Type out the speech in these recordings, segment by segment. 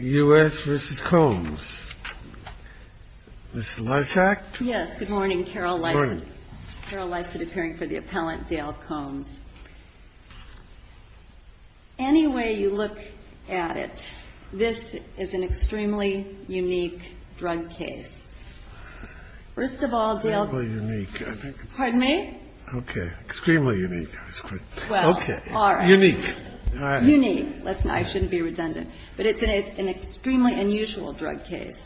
U.S. v. Combs, Ms. Lysak? Yes, good morning. Carol Lysak. Carol Lysak, appearing for the appellant, Dale Combs. Any way you look at it, this is an extremely unique drug case. Extremely unique. Pardon me? Okay. Extremely unique. Okay. Well, all right. Unique. Unique. I shouldn't be redundant. But it's an extremely unusual drug case.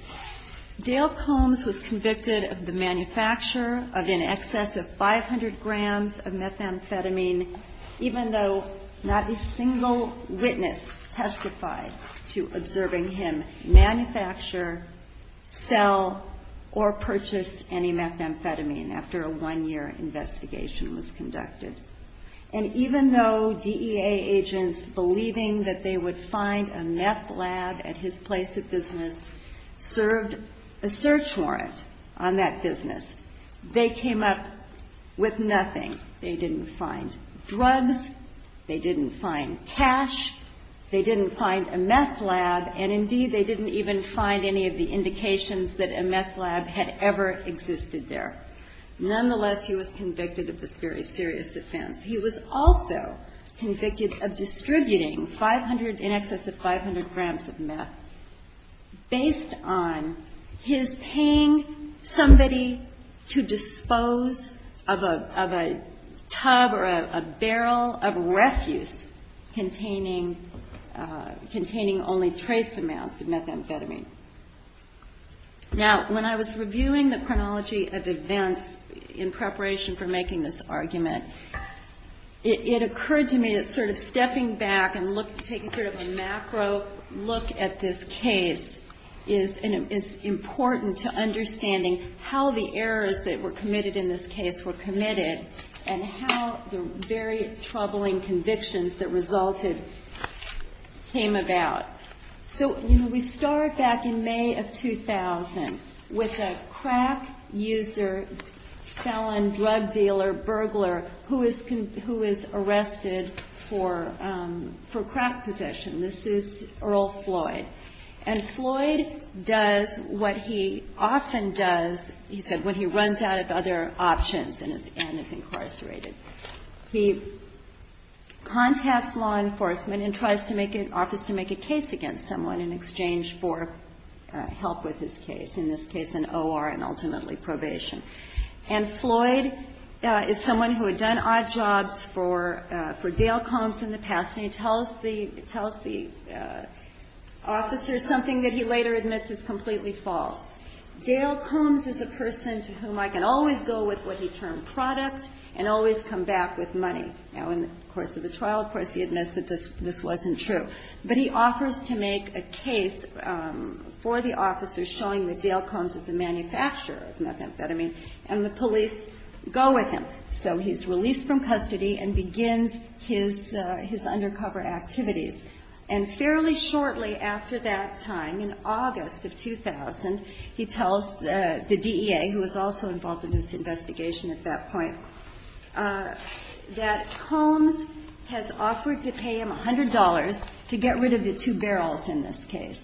Dale Combs was convicted of the manufacture of in excess of 500 grams of methamphetamine, even though not a single witness testified to observing him manufacture, sell, or purchase it. And even though DEA agents, believing that they would find a meth lab at his place of business, served a search warrant on that business, they came up with nothing. They didn't find drugs. They didn't find cash. They didn't find a meth lab. And, indeed, they didn't even find any of the indications that a meth lab had ever existed there. Nonetheless, he was convicted of this very serious offense. He was also convicted of distributing 500, in excess of 500 grams of meth, based on his paying somebody to dispose of a tub or a barrel of refuse containing only trace amounts of methamphetamine. Now, when I was reviewing the chronology of events in preparation for making this argument, it occurred to me that sort of stepping back and taking sort of a macro look at this case is important to understanding how the errors that were committed in this case were committed and how the very troubling convictions that resulted came about. So, you know, we start back in May of 2000 with a crack user, felon, drug dealer, burglar who is arrested for crack possession. This is Earl Floyd. And Floyd does what he often does, he said, when he runs out of other options and is incarcerated. He contacts law enforcement and tries to make an office to make a case against someone in exchange for help with his case, in this case an O.R. and ultimately probation. And Floyd is someone who had done odd jobs for Dale Combs in the past, and he tells the officer something that he later admits is completely false. Dale Combs is a person to whom I can always go with what he termed product and always come back with money. Now, in the course of the trial, of course, he admits that this wasn't true. But he offers to make a case for the officer showing that Dale Combs is a manufacturer of methamphetamine, and the police go with him. So he's released from custody and begins his undercover activities. And fairly shortly after that time, in August of 2000, he tells the DEA, who was also involved in this investigation at that point, that Combs has offered to pay him $100 to get rid of the two barrels in this case.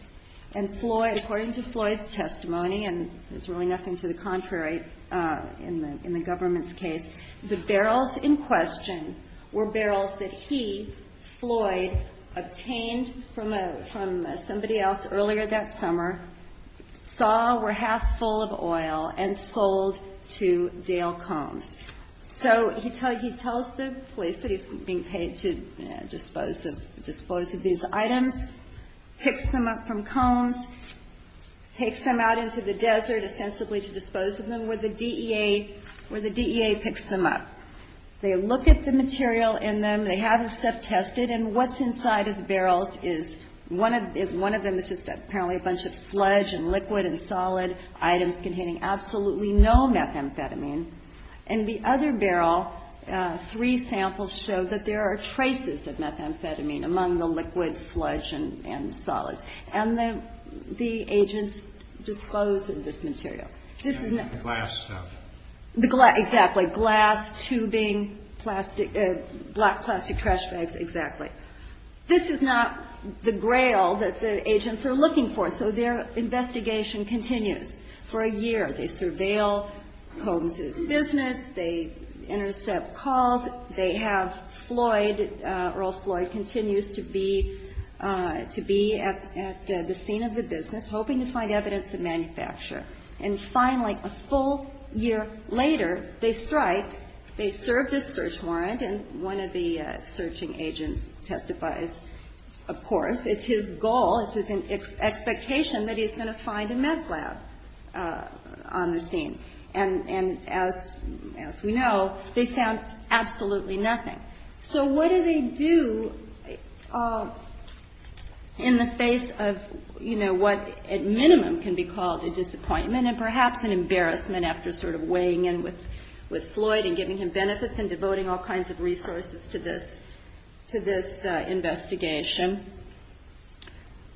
And Floyd, according to Floyd's testimony, and there's really nothing to the contrary in the government's case, the barrels in question were barrels that he, Floyd, obtained from somebody else earlier that summer, saw were half full of oil, and sold to Dale Combs. So he tells the police that he's being paid to dispose of these items, picks them up from Combs, takes them out into the desert, ostensibly to dispose of them, where the DEA picks them up. They look at the material in them. They have the stuff tested. And what's inside of the barrels is one of them is just apparently a bunch of sludge and liquid and solid items containing absolutely no methamphetamine. In the other barrel, three samples show that there are traces of methamphetamine among the liquid, sludge, and solids. And the agents disclose this material. This is not the glass stuff. Tubing, plastic, black plastic trash bags, exactly. This is not the grail that the agents are looking for. So their investigation continues for a year. They surveil Combs' business. They intercept calls. They have Floyd, Earl Floyd, continues to be at the scene of the business, hoping to find evidence of manufacture. And finally, a full year later, they strike. They serve this search warrant. And one of the searching agents testifies, of course. It's his goal, it's his expectation that he's going to find a meth lab on the scene. And as we know, they found absolutely nothing. So what do they do in the face of, you know, what at minimum can be called a disappointment and perhaps an embarrassment after sort of weighing in with Floyd and giving him benefits and devoting all kinds of resources to this investigation?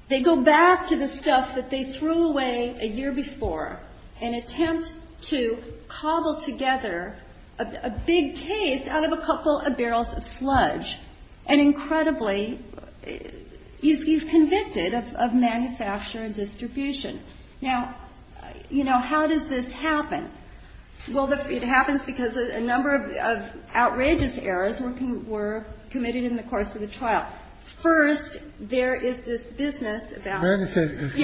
They go back to the stuff that they threw away a year before and attempt to cobble together a big case out of a couple of barrels of sludge. And incredibly, he's convicted of manufacture and distribution. Now, you know, how does this happen? Well, it happens because a number of outrageous errors were committed in the course of the trial. First, there is this business about it. And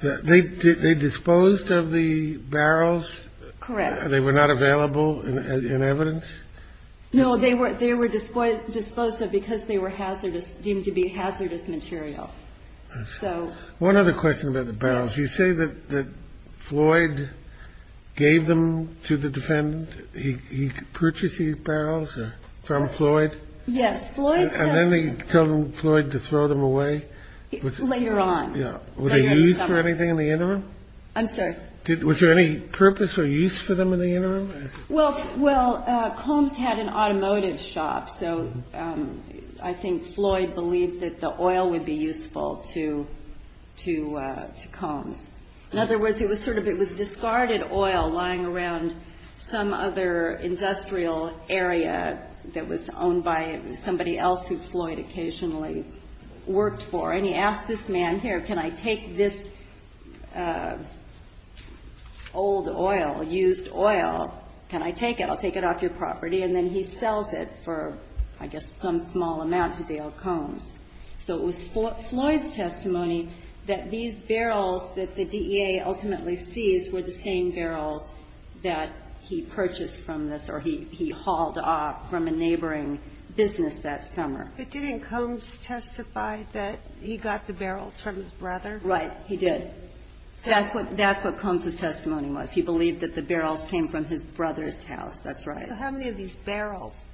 then they were disposed of the barrels. Correct. They were not available in evidence? No, they were disposed of because they were deemed to be hazardous material. One other question about the barrels. You say that Floyd gave them to the defendant. He purchased these barrels from Floyd? Yes. And then he told Floyd to throw them away? Later on. Were they used for anything in the interim? I'm sorry? Was there any purpose or use for them in the interim? Well, Combs had an automotive shop. So I think Floyd believed that the oil would be useful to Combs. In other words, it was sort of discarded oil lying around some other industrial area that was owned by somebody else who Floyd occasionally worked for. And he asked this man here, can I take this old oil, used oil, can I take it? I'll take it off your property. And then he sells it for, I guess, some small amount to Dale Combs. So it was Floyd's testimony that these barrels that the DEA ultimately seized were the same barrels that he purchased from this or he hauled off from a neighboring business that summer. But didn't Combs testify that he got the barrels from his brother? Right. He did. That's what Combs' testimony was. He believed that the barrels came from his brother's house. That's right. So how many of these barrels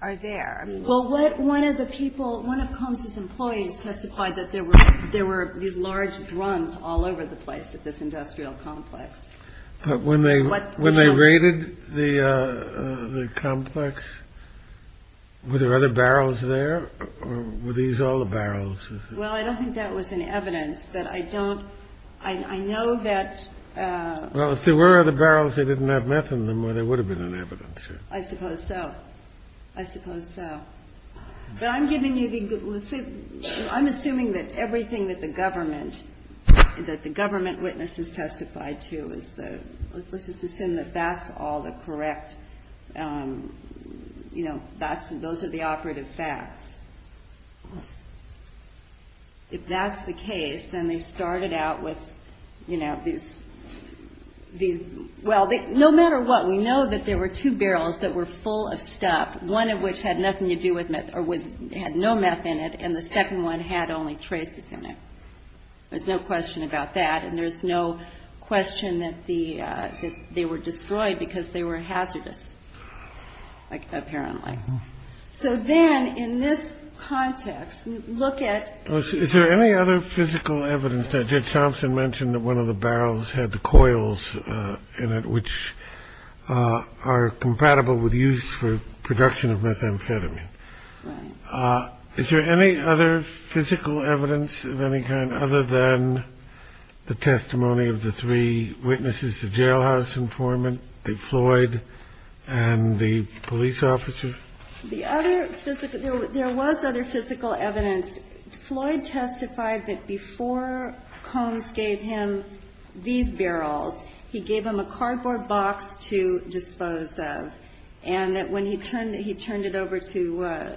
are there? Well, one of the people, one of Combs' employees testified that there were these large drums all over the place at this industrial complex. But when they raided the complex, were there other barrels there? Or were these all the barrels? Well, I don't think that was in evidence, but I don't, I know that. Well, if there were other barrels, they didn't have meth in them, or there would have been in evidence. I suppose so. I suppose so. But I'm giving you the, let's say, I'm assuming that everything that the government, that the government witnesses testified to is the, let's just assume that that's all the correct, you know, those are the operative facts. If that's the case, then they started out with, you know, these, well, no matter what, we know that there were two barrels that were full of stuff, one of which had nothing to do with meth, or had no meth in it, and the second one had only traces in it. There's no question about that. And there's no question that they were destroyed because they were hazardous, apparently. So then in this context, look at. Is there any other physical evidence that Judge Thompson mentioned that one of the barrels had the coils in it, which are compatible with use for production of methamphetamine? Right. Is there any other physical evidence of any kind other than the testimony of the three witnesses, the jailhouse informant, the Floyd, and the police officer? The other physical, there was other physical evidence. And Floyd testified that before Combs gave him these barrels, he gave them a cardboard box to dispose of, and that when he turned it over to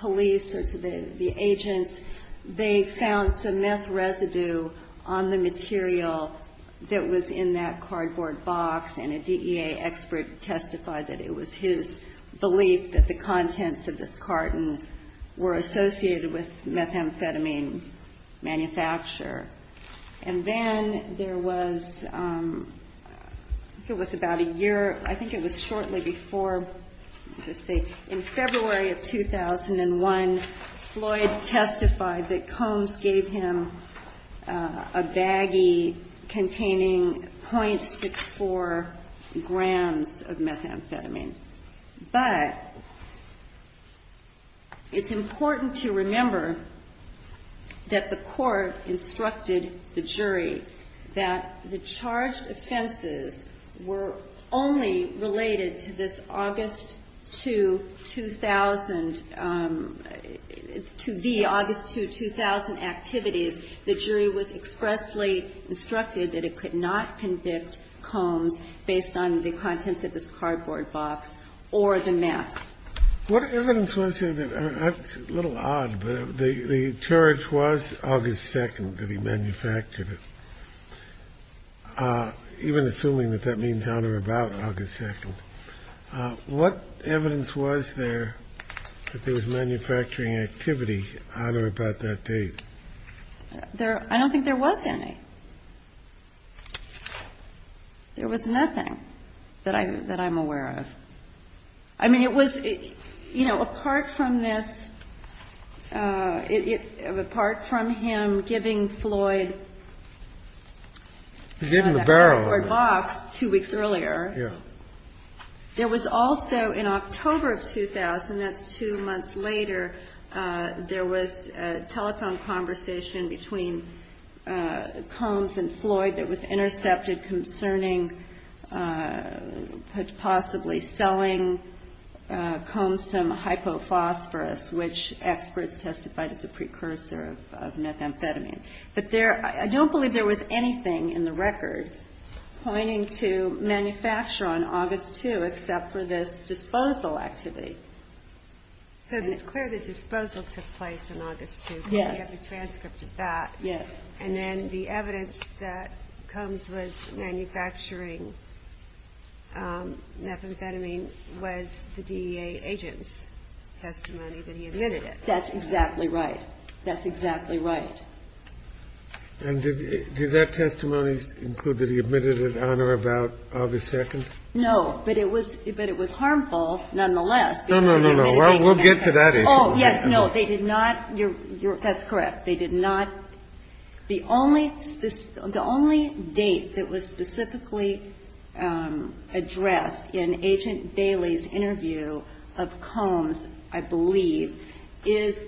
police or to the agent, they found some meth residue on the material that was in that cardboard box, and a DEA expert testified that it was his belief that the contents of this carton were associated with methamphetamine manufacture. And then there was, I think it was about a year, I think it was shortly before, let me just say, in February of 2001, Floyd testified that Combs gave him a baggie containing .64 grams of methamphetamine. But it's important to remember that the court instructed the jury that the charged offenses were only related to this August 2, 2000, to the August 2, 2000 activities. The jury was expressly instructed that it could not convict Combs based on the contents of this cardboard box or the meth. What evidence was there? That's a little odd, but the charge was August 2 that he manufactured it, even assuming that that means on or about August 2. What evidence was there that there was manufacturing activity on or about that date? I don't think there was any. There was nothing that I'm aware of. I mean, it was, you know, apart from this, apart from him giving Floyd the cardboard box two weeks earlier, there was also, in October of 2000, that's two months later, there was a telephone conversation between Combs and Floyd that was intercepted concerning possibly selling Combs some hypophosphorus, which experts testified is a precursor of methamphetamine. I don't believe there was anything in the record pointing to manufacture on August 2 except for this disposal activity. So it's clear that disposal took place on August 2. Yes. We have a transcript of that. Yes. And then the evidence that Combs was manufacturing methamphetamine was the DEA agent's testimony that he admitted it. That's exactly right. That's exactly right. And did that testimony include that he admitted it on or about August 2? No. But it was harmful nonetheless. No, no, no, no. We'll get to that issue. Oh, yes. No, they did not. That's correct. They did not. The only date that was specifically addressed in Agent Bailey's interview of Combs, I believe, is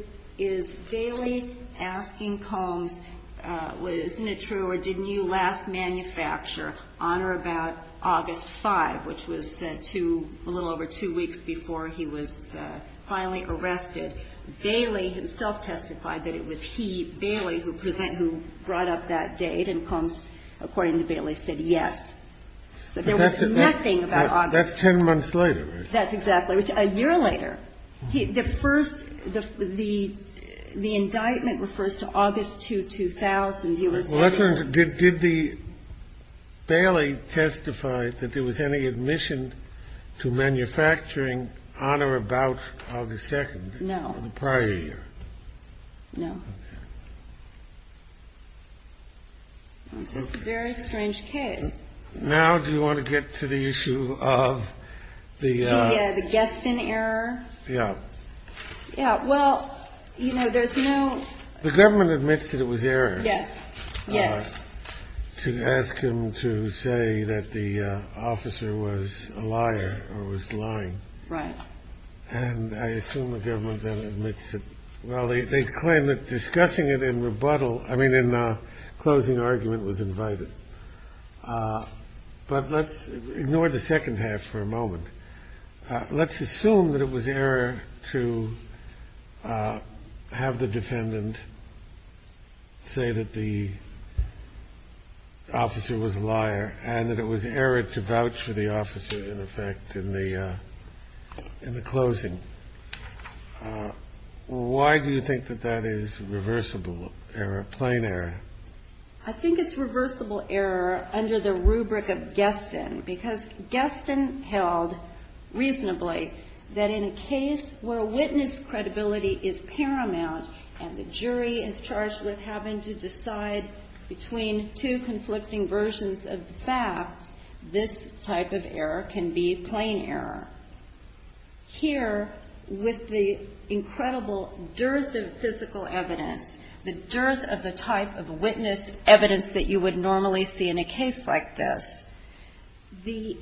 Bailey asking Combs, isn't it true or didn't you last manufacture on or about August 5, which was a little over two weeks before he was finally arrested. Bailey himself testified that it was he, Bailey, who brought up that date, and Combs, according to Bailey, said yes. So there was nothing about August. That's 10 months later, right? That's exactly right. A year later. The first the indictment refers to August 2, 2000. He was getting. Did Bailey testify that there was any admission to manufacturing on or about August 2? No. In the prior year? No. Okay. That's just a very strange case. Now do you want to get to the issue of the. The guessing error? Yeah. Yeah, well, you know, there's no. The government admits that it was error. Yes. Yes. To ask him to say that the officer was a liar or was lying. Right. And I assume the government then admits it. Well, they claim that discussing it in rebuttal. I mean, in the closing argument was invited. But let's ignore the second half for a moment. Let's assume that it was error to have the defendant. Say that the. Officer was a liar and that it was error to vouch for the officer. In effect, in the. In the closing. Why do you think that that is reversible error? Plain error. I think it's reversible error under the rubric of guest in because guest in held. Reasonably that in a case where witness credibility is paramount and the jury is charged with having to decide between two conflicting versions of the facts. This type of error can be plain error. Here with the incredible dearth of physical evidence. The dearth of the type of witness evidence that you would normally see in a case like this. The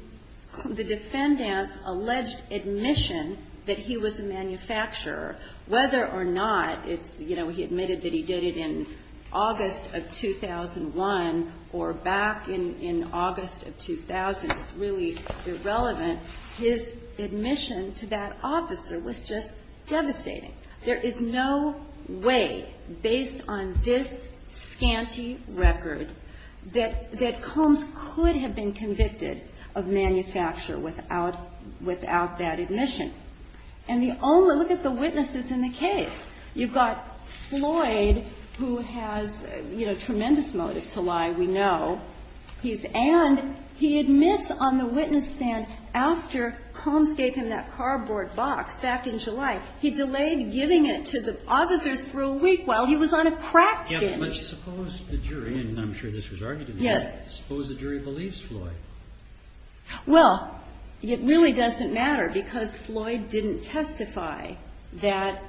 defendant's alleged admission that he was a manufacturer. Whether or not it's, you know, he admitted that he did it in August of 2001 or back in August of 2000. It's really irrelevant. His admission to that officer was just devastating. There is no way based on this scanty record that Combs could have been convicted of manufacture without that admission. And the only, look at the witnesses in the case. You've got Floyd who has, you know, tremendous motive to lie, we know. And he admits on the witness stand after Combs gave him that cardboard box back in July. He delayed giving it to the officers for a week while he was on a crack binge. Let's suppose the jury, and I'm sure this was argued in court, suppose the jury believes Floyd. Well, it really doesn't matter because Floyd didn't testify that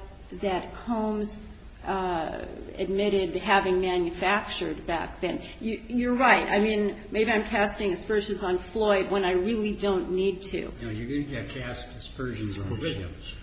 Combs admitted having manufactured back then. You're right. I mean, maybe I'm casting aspersions on Floyd when I really don't need to. No, you're going to have to cast aspersions on Williams.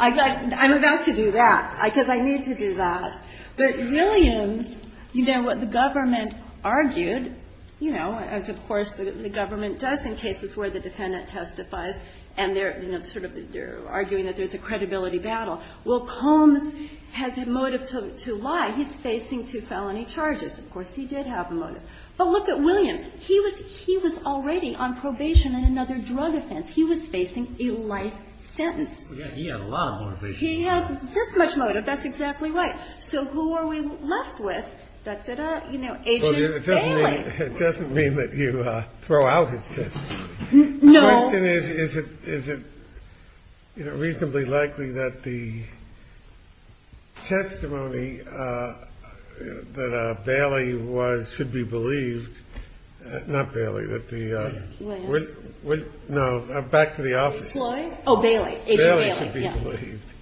I'm about to do that because I need to do that. But Williams, you know, what the government argued, you know, as of course the government does in cases where the defendant testifies and they're, you know, sort of they're arguing that there's a credibility battle. Well, Combs has a motive to lie. He's facing two felony charges. Of course, he did have a motive. But look at Williams. He was already on probation in another drug offense. He was facing a life sentence. He had a lot of motivation. He had this much motive. That's exactly right. So who are we left with? Agent Bailey. It doesn't mean that you throw out his testimony. No. The question is, is it, you know, reasonably likely that the testimony that Bailey was, should be believed, not Bailey, but the Williams? No, back to the officer. Oh, Bailey. Agent Bailey. Bailey should be believed.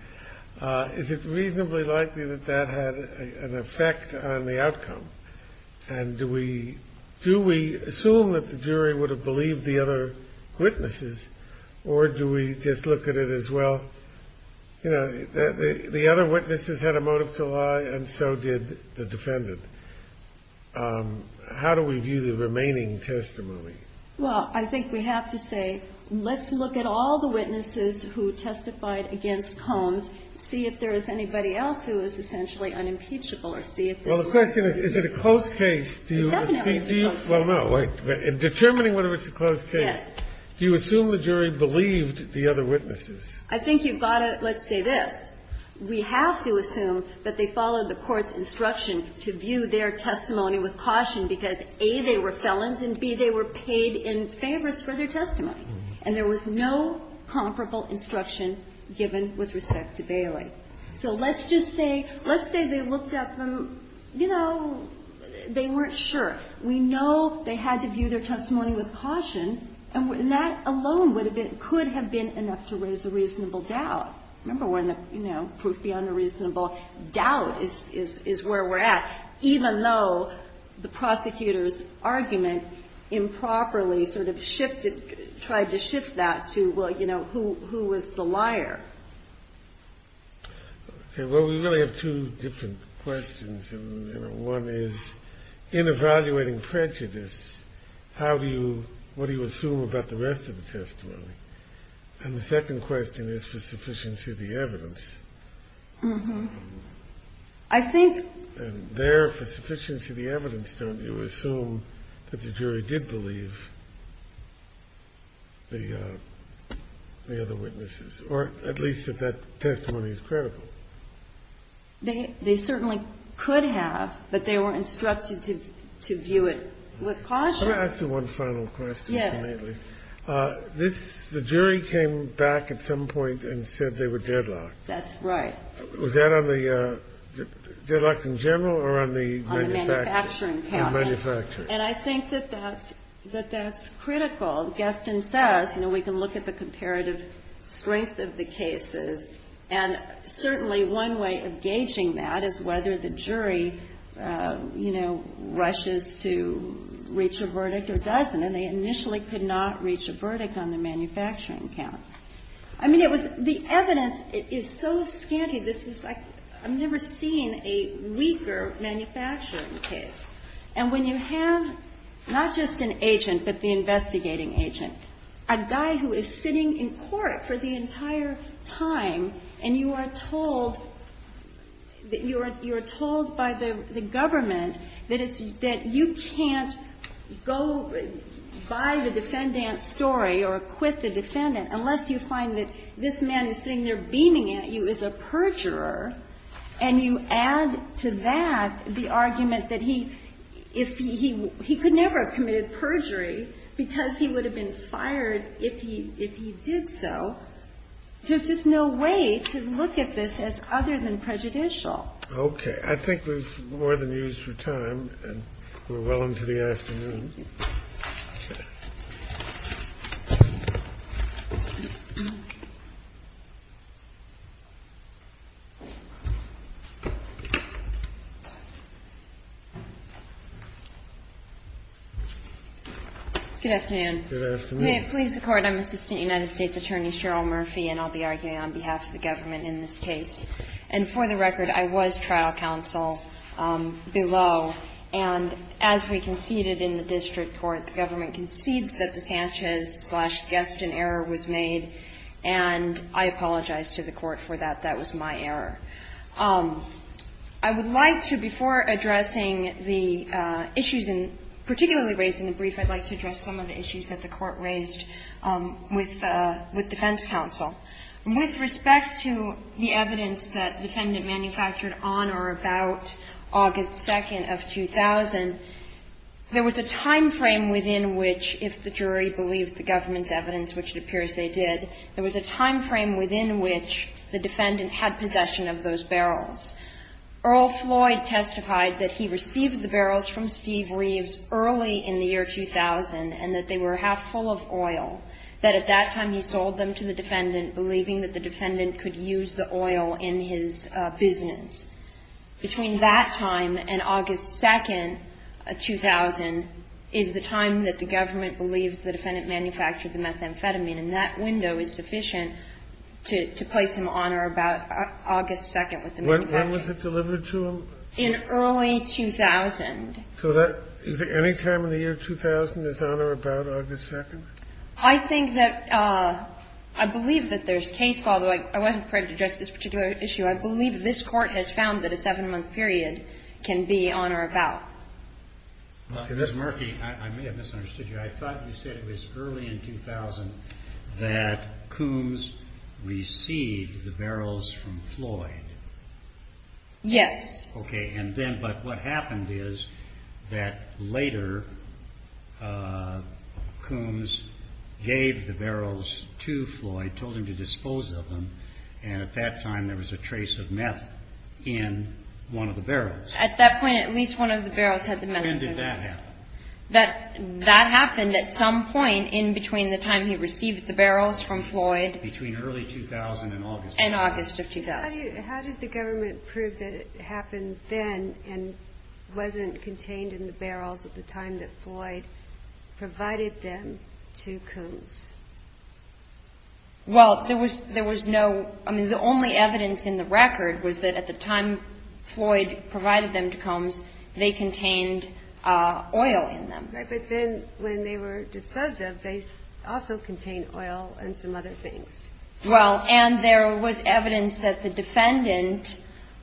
Is it reasonably likely that that had an effect on the outcome? And do we assume that the jury would have believed the other witnesses, or do we just look at it as, well, you know, the other witnesses had a motive to lie, and so did the defendant? How do we view the remaining testimony? Well, I think we have to say, let's look at all the witnesses who testified against Combs, see if there is anybody else who is essentially unimpeachable or see if there's more. Well, the question is, is it a close case? It definitely is a close case. Well, no. In determining whether it's a close case, do you assume the jury believed the other witnesses? I think you've got to, let's say this. We have to assume that they followed the Court's instruction to view their testimony with caution, because, A, they were felons, and, B, they were paid in favors for their testimony. And there was no comparable instruction given with respect to Bailey. So let's just say, let's say they looked at them, you know, they weren't sure. We know they had to view their testimony with caution, and that alone would have been, could have been enough to raise a reasonable doubt. Remember when the, you know, proof beyond a reasonable doubt is where we're at, even though the prosecutor's argument improperly sort of shifted, tried to shift that to, well, you know, who was the liar? Okay. Well, we really have two different questions, and, you know, one is, in evaluating prejudice, how do you, what do you assume about the rest of the testimony? And the second question is for sufficiency of the evidence. I think... And there, for sufficiency of the evidence, don't you assume that the jury did believe the other witnesses? Or at least that that testimony is critical? They certainly could have, but they were instructed to view it with caution. Can I ask you one final question, please? Yes. This, the jury came back at some point and said they were deadlocked. That's right. Was that on the, deadlocked in general or on the manufacturer? On the manufacturing count. The manufacturer. And I think that that's, that that's critical. Gaston says, you know, we can look at the comparative strength of the cases, and certainly one way of gauging that is whether the jury, you know, rushes to reach a verdict or doesn't. And they initially could not reach a verdict on the manufacturing count. I mean, it was, the evidence is so scanty. This is like, I've never seen a weaker manufacturing case. And when you have not just an agent, but the investigating agent, a guy who is sitting in court for the entire time, and you are told that you are, you are told by the government that it's, that you can't go by the defendant's story or acquit the defendant unless you find that this man who's sitting there beaming at you is a perjurer, and you add to that the argument that he, if he, he could never have committed perjury because he would have been fired if he, if he did so, there's just no way to look at this as other than prejudicial. And I think that's all. Okay. I think we've more than used your time, and we're well into the afternoon. Good afternoon. Good afternoon. May it please the Court, I'm Assistant United States Attorney Cheryl Murphy, and I'll be arguing on behalf of the government in this case. And for the record, I was trial counsel below. And as we conceded in the district court, the government concedes that the Sanchez slash Gueston error was made. And I apologize to the Court for that. That was my error. I would like to, before addressing the issues particularly raised in the brief, I'd like to address some of the issues that the Court raised with defense counsel. With respect to the evidence that the defendant manufactured on or about August 2nd of 2000, there was a time frame within which, if the jury believed the government's evidence, which it appears they did, there was a time frame within which the defendant had possession of those barrels. Earl Floyd testified that he received the barrels from Steve Reeves early in the year 2000 and that they were half full of oil, that at that time he sold them to the defendant believing that the defendant could use the oil in his business. Between that time and August 2nd, 2000, is the time that the government believes the defendant manufactured the methamphetamine. And that window is sufficient to place him on or about August 2nd with the methamphetamine. When was it delivered to him? In early 2000. So that, any time in the year 2000 is on or about August 2nd? I think that, I believe that there's case, although I wasn't prepared to address this particular issue, I believe this Court has found that a seven-month period can be on or about. Ms. Murphy, I may have misunderstood you. I thought you said it was early in 2000 that Coombs received the barrels from Floyd. Yes. Okay, and then, but what happened is that later Coombs gave the barrels to Floyd, told him to dispose of them, and at that time there was a trace of meth in one of the barrels. At that point, at least one of the barrels had the methamphetamine. When did that happen? That happened at some point in between the time he received the barrels from Floyd. Between early 2000 and August. And August of 2000. How did the government prove that it happened then and wasn't contained in the barrels at the time that Floyd provided them to Coombs? Well, there was no, I mean, the only evidence in the record was that at the time Floyd provided them to Coombs, they contained oil in them. Right, but then when they were disposed of, they also contained oil and some other things. Well, and there was evidence that the defendant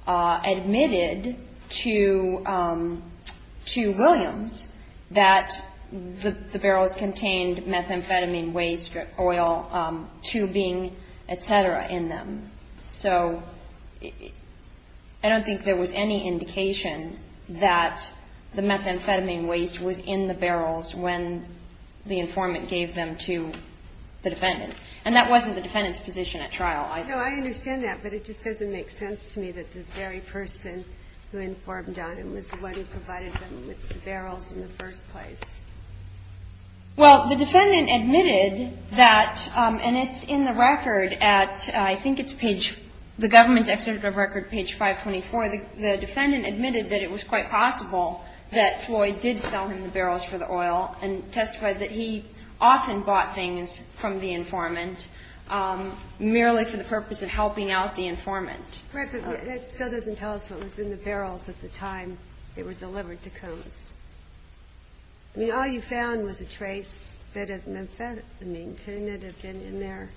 admitted to Williams that the barrels contained methamphetamine waste or oil, tubing, et cetera, in them. So I don't think there was any indication that the methamphetamine waste was in the barrels when the informant gave them to the defendant. And that wasn't the defendant's position at trial either. No, I understand that, but it just doesn't make sense to me that the very person who informed on him was the one who provided them with the barrels in the first place. Well, the defendant admitted that, and it's in the record at, I think it's page, the government's executive record, page 524. The defendant admitted that it was quite possible that Floyd did sell him the barrels for the oil and testified that he often bought things from the informant merely for the purpose of helping out the informant. Right, but that still doesn't tell us what was in the barrels at the time they were delivered to Coombs. I mean, all you found was a trace of methamphetamine. Couldn't it have been in there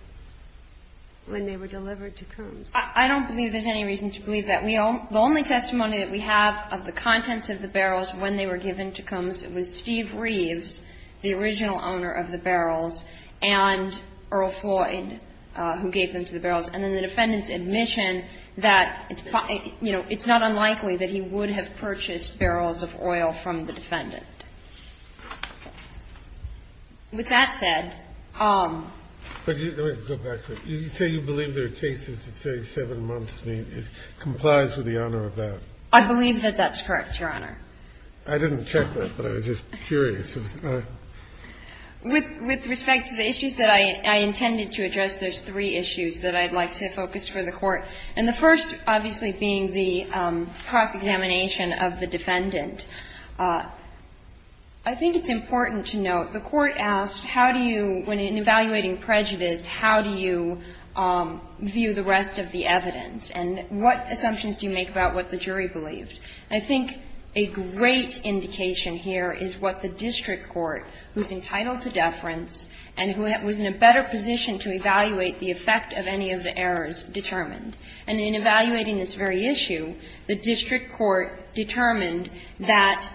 when they were delivered to Coombs? I don't believe there's any reason to believe that. The only testimony that we have of the contents of the barrels when they were given to Coombs was Steve Reeves, the original owner of the barrels, and Earl Floyd, who gave them to the barrels. And then the defendant's admission that, you know, it's not unlikely that he would have purchased barrels of oil from the defendant. With that said ---- But let me go back to it. You say you believe there are cases that say 7 months. It complies with the honor of that. I believe that that's correct, Your Honor. I didn't check that, but I was just curious. With respect to the issues that I intended to address, there's three issues that I'd like to focus for the Court, and the first, obviously, being the cross-examination of the defendant. I think it's important to note the Court asked how do you, when evaluating prejudice, how do you view the rest of the evidence, and what assumptions do you make about what the jury believed. And I think a great indication here is what the district court, who's entitled to deference and who was in a better position to evaluate the effect of any of the errors, determined. And in evaluating this very issue, the district court determined that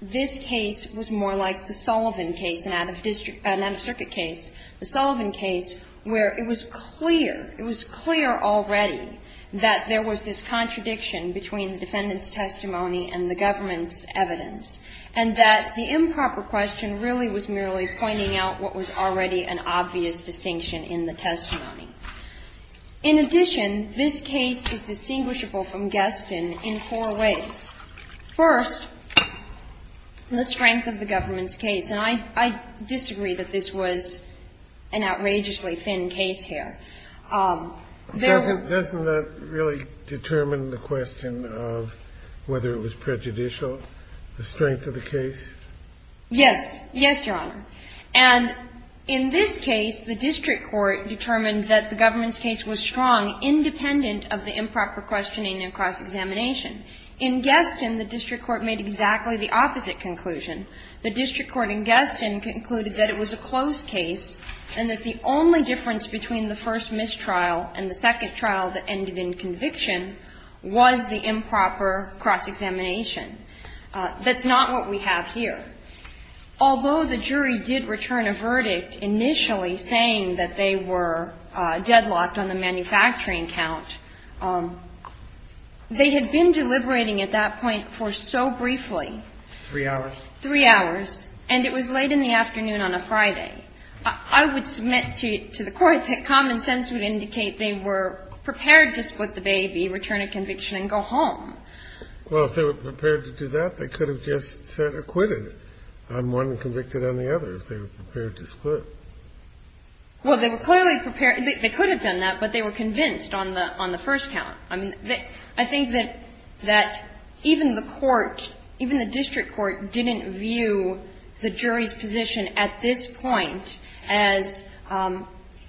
this case was more like the Sullivan case, an out-of-district case. The Sullivan case, where it was clear, it was clear already that there was this contradiction between the defendant's testimony and the government's evidence, and that the improper question really was merely pointing out what was already an obvious distinction in the testimony. In addition, this case is distinguishable from Guestin in four ways. First, the strength of the government's case. And I disagree that this was an outrageously thin case here. There's a really determined question of whether it was prejudicial, the strength of the case. Yes. Yes, Your Honor. And in this case, the district court determined that the government's case was strong, independent of the improper questioning and cross-examination. In Guestin, the district court made exactly the opposite conclusion. The district court in Guestin concluded that it was a closed case and that the only difference between the first mistrial and the second trial that ended in conviction was the improper cross-examination. That's not what we have here. Although the jury did return a verdict initially saying that they were deadlocked on the manufacturing count, they had been deliberating at that point for so briefly Three hours. Three hours. And it was late in the afternoon on a Friday. I would submit to the court that common sense would indicate they were prepared to split the baby, return a conviction and go home. Well, if they were prepared to do that, they could have just acquitted on one and convicted on the other if they were prepared to split. Well, they were clearly prepared. They could have done that, but they were convinced on the first count. I mean, I think that even the court, even the district court didn't view the jury's position at this point as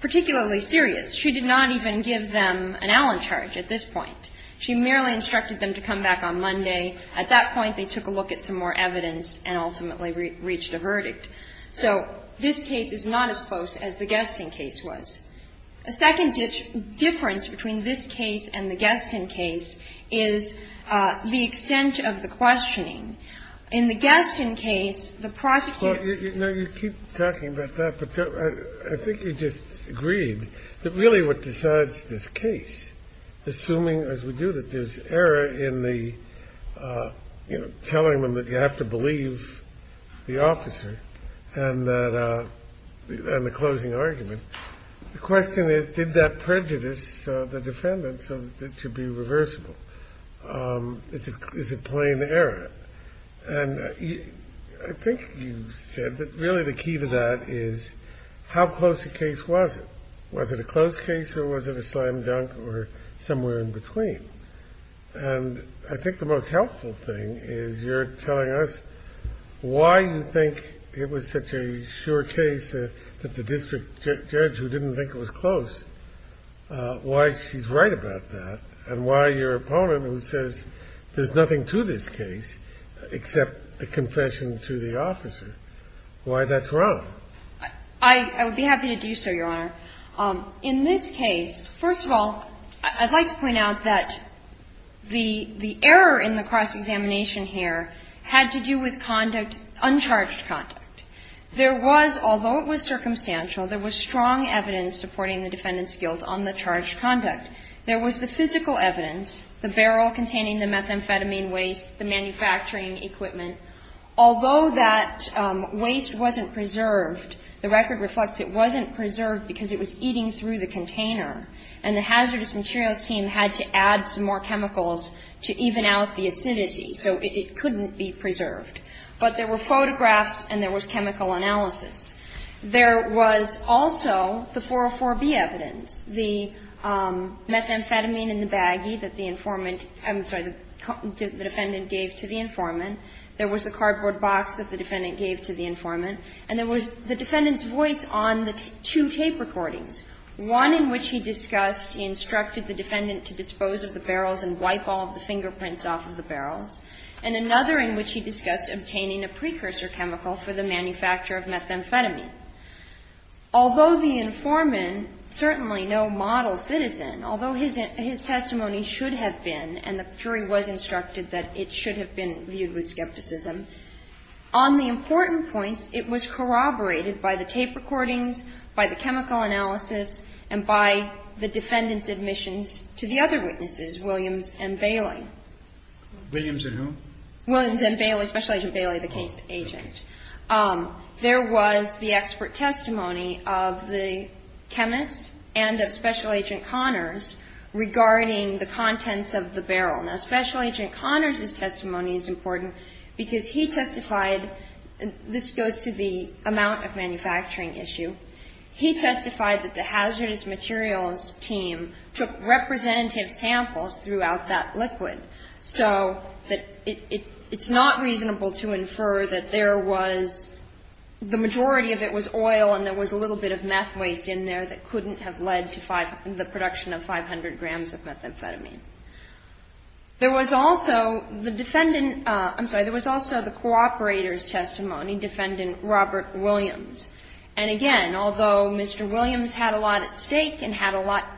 particularly serious. She did not even give them an Allen charge at this point. She merely instructed them to come back on Monday. At that point, they took a look at some more evidence and ultimately reached a verdict. So this case is not as close as the Guestin case was. The second difference between this case and the Guestin case is the extent of the questioning. In the Guestin case, the prosecutor ---- Now, you keep talking about that, but I think you just agreed that really what decides this case, assuming as we do that there's error in the, you know, telling them that you have to believe the officer and the closing argument. The question is, did that prejudice the defendants to be reversible? Is it plain error? And I think you said that really the key to that is how close the case was. Was it a close case or was it a slam dunk or somewhere in between? And I think the most helpful thing is you're telling us why you think it was such a sure case that the district judge, who didn't think it was close, why she's right about that and why your opponent, who says there's nothing to this case except the confession to the officer, why that's wrong. I would be happy to do so, Your Honor. In this case, first of all, I'd like to point out that the error in the cross-examination here had to do with conduct, uncharged conduct. There was, although it was circumstantial, there was strong evidence supporting the defendant's guilt on the charged conduct. There was the physical evidence, the barrel containing the methamphetamine waste, the manufacturing equipment. Although that waste wasn't preserved, the record reflects it wasn't preserved because it was eating through the container, and the hazardous materials team had to add some more chemicals to even out the acidity, so it couldn't be preserved. But there were photographs and there was chemical analysis. There was also the 404B evidence, the methamphetamine in the baggie that the informant – I'm sorry, the defendant gave to the informant. There was the cardboard box that the defendant gave to the informant. And there was the defendant's voice on the two tape recordings, one in which he discussed – he instructed the defendant to dispose of the barrels and wipe all of the fingerprints off of the barrels, and another in which he discussed obtaining a precursor chemical for the manufacture of methamphetamine. Although the informant, certainly no model citizen, although his testimony should have been, and the jury was instructed that it should have been viewed with skepticism, on the important points, it was corroborated by the tape recordings, by the chemical analysis, and by the defendant's admissions to the other witnesses, Williams and Bailey. Williams and who? Williams and Bailey, Special Agent Bailey, the case agent. There was the expert testimony of the chemist and of Special Agent Connors regarding the contents of the barrel. Now, Special Agent Connors' testimony is important because he testified – and this goes to the amount of manufacturing issue – he testified that the hazardous materials team took representative samples throughout that liquid. So it's not reasonable to infer that there was – the majority of it was oil and there was a little bit of meth waste in there that couldn't have led to the production of 500 grams of methamphetamine. There was also the defendant – I'm sorry. There was also the cooperator's testimony, Defendant Robert Williams. And again, although Mr. Williams had a lot at stake and had a lot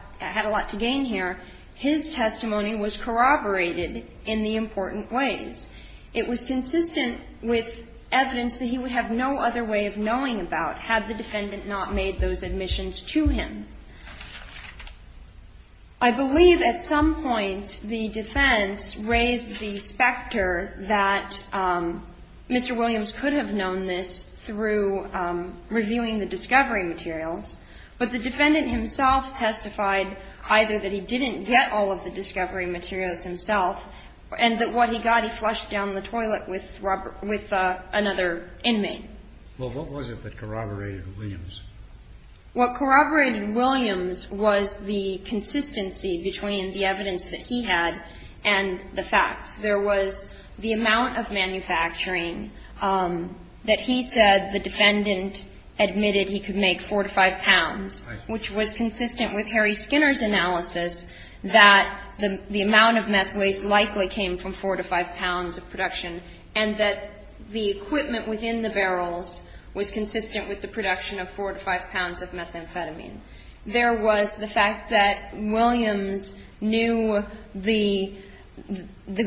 to gain here, his testimony was corroborated in the important ways. It was consistent with evidence that he would have no other way of knowing about had the defendant not made those admissions to him. I believe at some point the defense raised the specter that Mr. Williams could have known this through reviewing the discovery materials, but the defendant himself testified either that he didn't get all of the discovery materials himself and that what he got he flushed down the toilet with another inmate. Well, what was it that corroborated Williams? What corroborated Williams was the consistency between the evidence that he had and the facts. There was the amount of manufacturing that he said the defendant admitted he could make, 4 to 5 pounds, which was consistent with Harry Skinner's analysis that the amount of meth waste likely came from 4 to 5 pounds of production and that the equipment within the barrels was consistent with the production of 4 to 5 pounds of methamphetamine. There was the fact that Williams knew the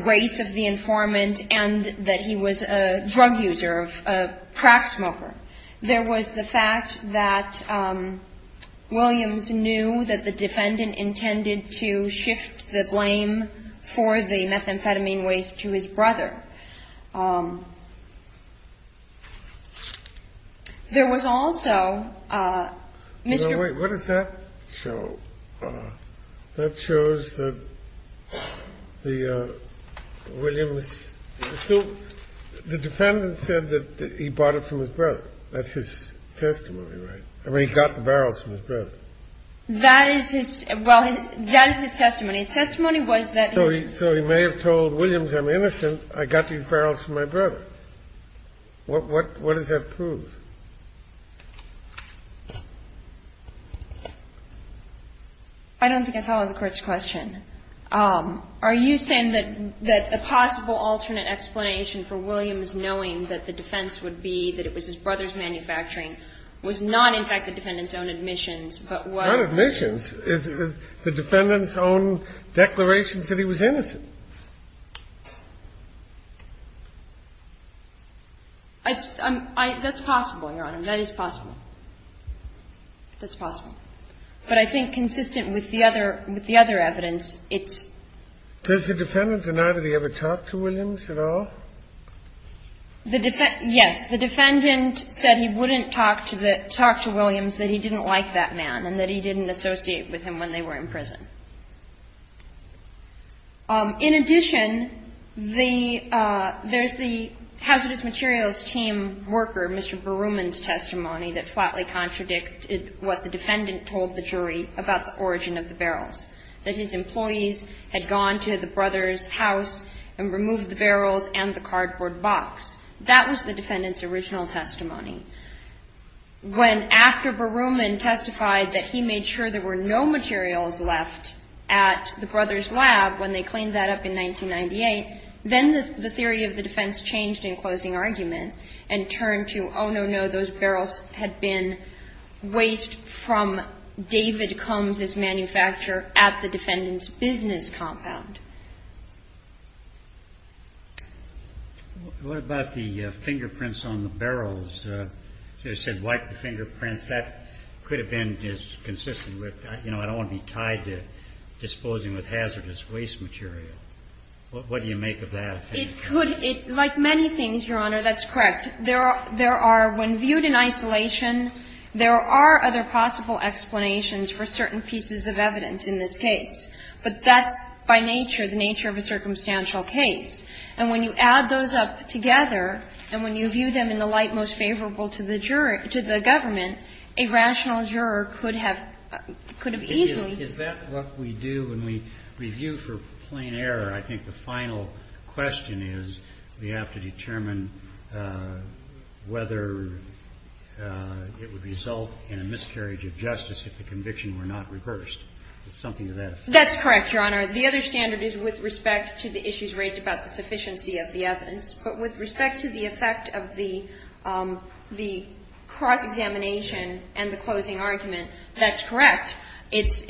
grace of the informant and that he was a drug user, a crack smoker. There was the fact that Williams knew that the defendant intended to shift the blame for the methamphetamine waste to his brother. There was also Mr. ---- Wait. What does that show? That shows that the Williams ---- So the defendant said that he bought it from his brother. That's his testimony, right? I mean, he got the barrels from his brother. That is his ---- Well, that is his testimony. His testimony was that his ---- So he may have told Williams, I'm innocent. I got these barrels from my brother. What does that prove? I don't think I follow the Court's question. Are you saying that the possible alternate explanation for Williams knowing that the defense would be that it was his brother's manufacturing was not, in fact, the defendant's own admissions, but was ---- Not admissions. The defendant's own declarations that he was innocent. That's possible, Your Honor. That is possible. That's possible. But I think consistent with the other evidence, it's ---- Does the defendant deny that he ever talked to Williams at all? Yes. The defendant said he wouldn't talk to Williams, that he didn't like that man and that he didn't associate with him when they were in prison. In addition, there's the hazardous materials team worker, Mr. Berumen's testimony, that flatly contradicted what the defendant told the jury about the origin of the barrels, that his employees had gone to the brother's house and removed the barrels and the cardboard box. That was the defendant's original testimony. When after Berumen testified that he made sure there were no materials left at the brother's lab when they cleaned that up in 1998, then the theory of the defense changed in closing argument and turned to, oh, no, no, those barrels had been waste from David Combs's manufacture at the defendant's business compound. What about the fingerprints on the barrels? You said wipe the fingerprints. That could have been consistent with, you know, I don't want to be tied to disposing with hazardous waste material. What do you make of that? It could ---- Like many things, Your Honor, that's correct. There are ---- when viewed in isolation, there are other possible explanations for certain pieces of evidence in this case. But that's by nature the nature of a circumstantial case. And when you add those up together and when you view them in the light most favorable to the government, a rational juror could have easily ---- Is that what we do when we review for plain error? I think the final question is we have to determine whether it would result in a miscarriage of justice if the conviction were not reversed. Something to that effect. That's correct, Your Honor. The other standard is with respect to the issues raised about the sufficiency of the evidence. But with respect to the effect of the cross-examination and the closing argument, that's correct. It's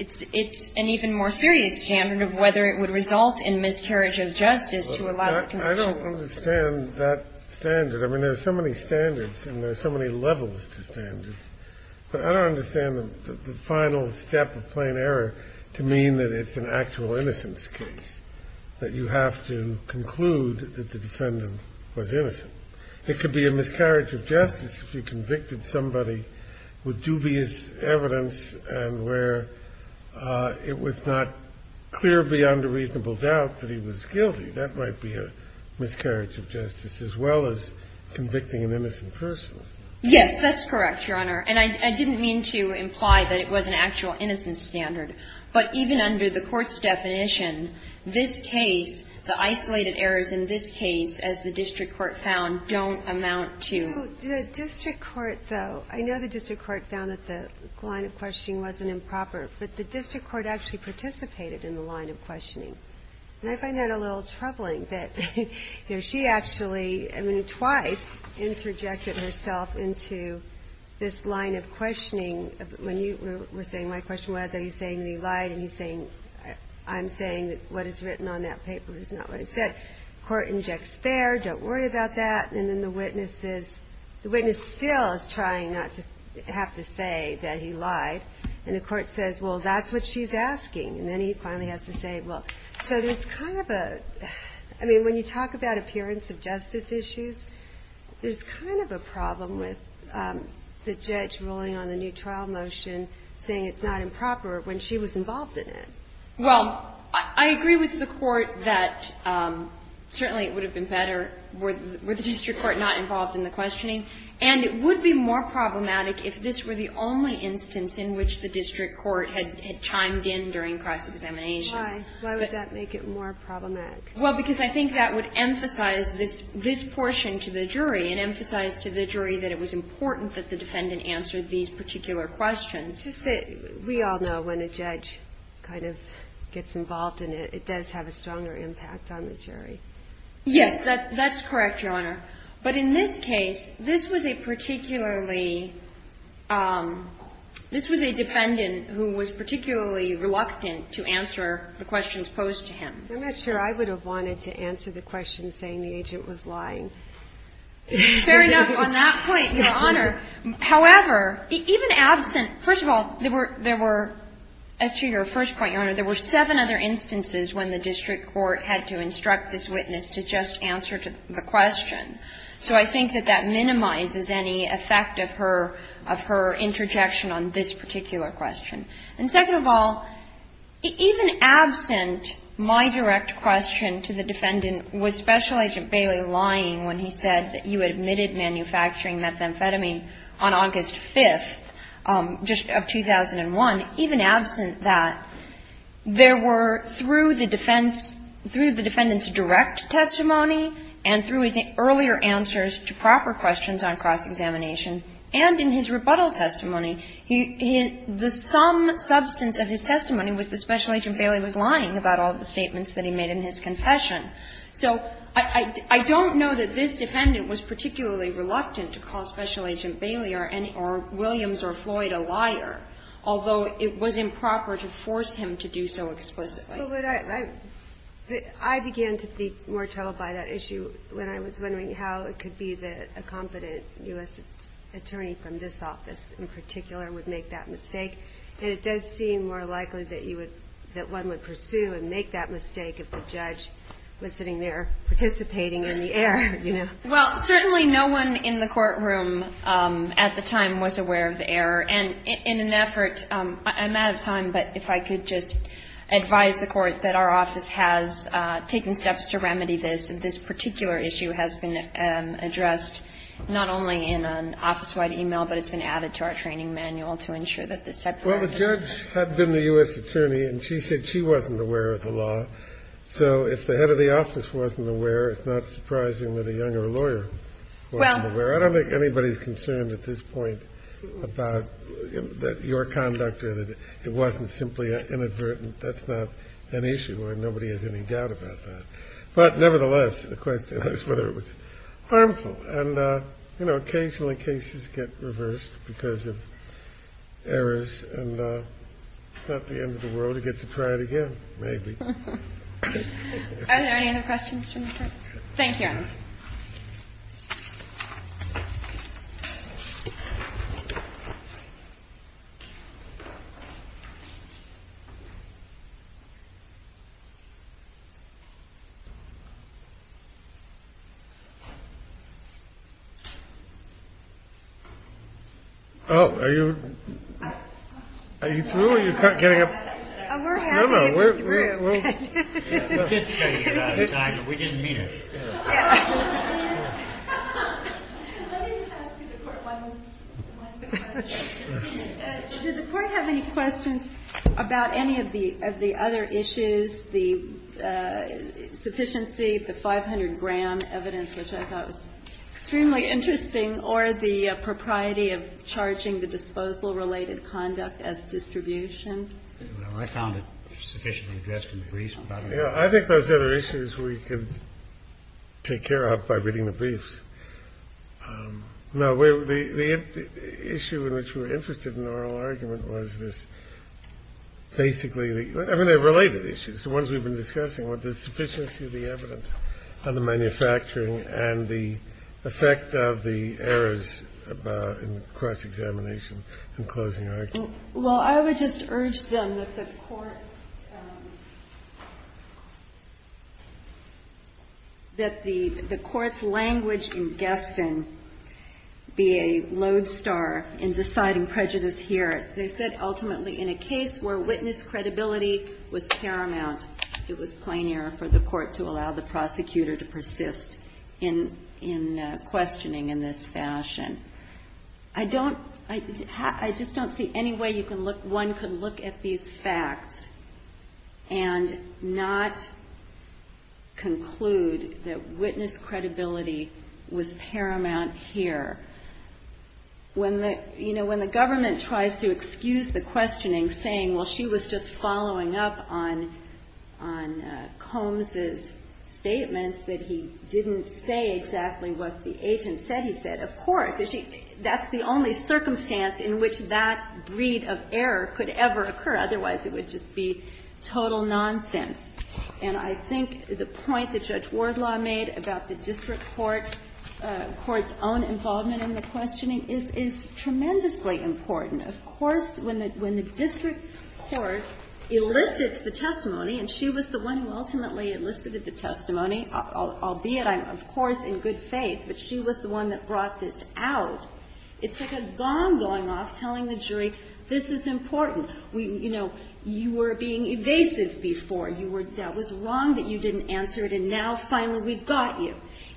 an even more serious standard of whether it would result in miscarriage of justice to allow the conviction to be reversed. I don't understand that standard. I mean, there are so many standards and there are so many levels to standards. But I don't understand the final step of plain error to mean that it's an actual innocence case, that you have to conclude that the defendant was innocent. It could be a miscarriage of justice if you convicted somebody with dubious evidence and where it was not clear beyond a reasonable doubt that he was guilty. That might be a miscarriage of justice as well as convicting an innocent person. Yes, that's correct, Your Honor. And I didn't mean to imply that it was an actual innocence standard. But even under the Court's definition, this case, the isolated errors in this case, as the district court found, don't amount to. The district court, though, I know the district court found that the line of questioning wasn't improper. But the district court actually participated in the line of questioning. And I find that a little troubling, that, you know, she actually, I mean, twice interjected herself into this line of questioning. When you were saying, my question was, are you saying that he lied? And he's saying, I'm saying that what is written on that paper is not what he said. The court injects there, don't worry about that. And then the witness is, the witness still is trying not to have to say that he lied. And the court says, well, that's what she's asking. And then he finally has to say, well. So there's kind of a, I mean, when you talk about appearance of justice issues, there's kind of a problem with the judge ruling on the new trial motion saying it's not improper when she was involved in it. Well, I agree with the Court that certainly it would have been better were the district court not involved in the questioning. And it would be more problematic if this were the only instance in which the district court had chimed in during cross-examination. Why? Why would that make it more problematic? Well, because I think that would emphasize this portion to the jury and emphasize to the jury that it was important that the defendant answer these particular questions. It's just that we all know when a judge kind of gets involved in it, it does have a stronger impact on the jury. Yes, that's correct, Your Honor. But in this case, this was a particularly, this was a defendant who was particularly reluctant to answer the questions posed to him. I'm not sure I would have wanted to answer the question saying the agent was lying. Fair enough on that point, Your Honor. However, even absent, first of all, there were, as to your first point, Your Honor, there were seven other instances when the district court had to instruct this witness to just answer the question. So I think that that minimizes any effect of her, of her interjection on this particular question. And second of all, even absent my direct question to the defendant, was Special Agent Bailey lying when he said that you admitted manufacturing methamphetamine on August 5th, just of 2001. Even absent that, there were, through the defense, through the defendant's direct testimony and through his earlier answers to proper questions on cross-examination and in his rebuttal testimony, the sum substance of his testimony was that Special Agent Bailey was lying about all the statements that he made in his confession. So I don't know that this defendant was particularly reluctant to call Special Agent Bailey or Williams or Floyd a liar, although it was improper to force him to do so explicitly. But I began to be more troubled by that issue when I was wondering how it could be that a competent U.S. attorney from this office in particular would make that mistake. And it does seem more likely that you would, that one would pursue and make that mistake if the judge was sitting there participating in the error, you know. Well, certainly no one in the courtroom at the time was aware of the error. And in an effort, I'm out of time, but if I could just advise the Court that our office has taken steps to remedy this, and this particular issue has been addressed not only in an office-wide e-mail, but it's been added to our training manual to ensure that this type of error doesn't occur. Well, the judge had been the U.S. attorney, and she said she wasn't aware of the law. So if the head of the office wasn't aware, it's not surprising that a younger lawyer wasn't aware. I don't think anybody's concerned at this point about your conduct or that it wasn't simply inadvertent. That's not an issue, and nobody has any doubt about that. But nevertheless, the question is whether it was harmful. And, you know, occasionally cases get reversed because of errors. And it's not the end of the world. You get to try it again, maybe. Are there any other questions from the Court? Thank you, Your Honor. Oh, are you through? Are you getting up? No, no. We're getting through. We didn't mean it. Let me ask the Court one more question. Did the Court have any questions about any of the other issues, the sufficiency, the 500-gram evidence, which I thought was extremely interesting, or the propriety of charging the disposal-related conduct as distribution? I found it sufficiently addressed in the briefs. I think those are issues we could take care of by reading the briefs. No. The issue in which we were interested in the oral argument was this, basically the related issues, the ones we've been discussing, were the sufficiency of the evidence on the manufacturing and the effect of the errors in cross-examination and closing argument. Well, I would just urge them that the Court's language in Gaston be a lodestar in deciding prejudice here. They said, ultimately, in a case where witness credibility was paramount, it was plain error for the Court to allow the prosecutor to persist in questioning in this fashion. I just don't see any way one could look at these facts and not conclude that witness credibility was paramount here. You know, when the government tries to excuse the questioning, saying, well, she was just following up on Combs's statements that he didn't say exactly what the agent said, he said, of course. That's the only circumstance in which that breed of error could ever occur. Otherwise, it would just be total nonsense. And I think the point that Judge Wardlaw made about the district court's own involvement in the questioning is tremendously important. Of course, when the district court elicits the testimony, and she was the one who ultimately elicited the testimony, albeit I'm, of course, in good faith, but she was the one that brought this out, it's like a gong going off telling the jury, this is important. You know, you were being evasive before. That was wrong that you didn't answer it, and now, finally, we've got you.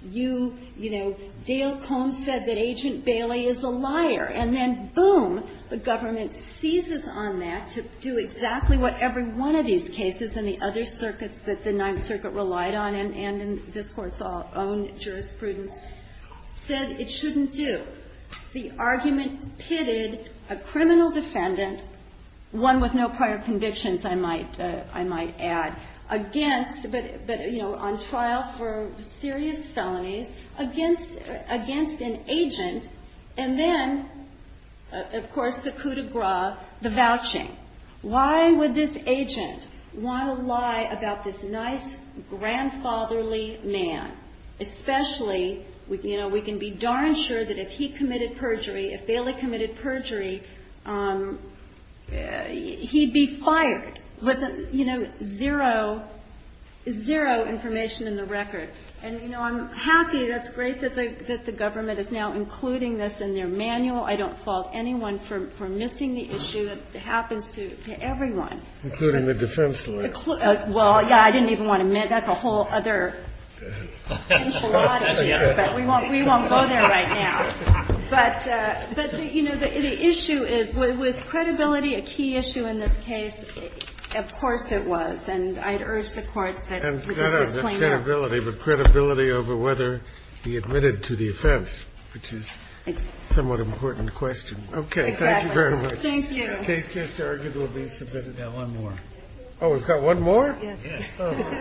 You, you know, Dale Combs said that Agent Bailey is a liar. And then, boom, the government seizes on that to do exactly what every one of these cases and the other circuits that the Ninth Circuit relied on, and in this Court's own jurisprudence, said it shouldn't do. The argument pitted a criminal defendant, one with no prior convictions, I might add, against, but, you know, on trial for serious felonies, against an agent, and then, of course, the coup de grace, the vouching. Why would this agent want to lie about this nice, grandfatherly man? Especially, you know, we can be darn sure that if he committed perjury, if Bailey committed perjury, he'd be fired with, you know, zero, zero information in the record. And, you know, I'm happy, that's great that the government is now including this in their The defense lawyer. Well, yeah, I didn't even want to admit, that's a whole other enchilada here, but we won't, we won't go there right now. But, you know, the issue is, was credibility a key issue in this case? Of course it was. And I'd urge the Court to explain that. And credibility, but credibility over whether he admitted to the offense, which is somewhat important question. Okay. Thank you very much. Thank you. The case just argued will be submitted at one more. Oh, we've got one more? Yes.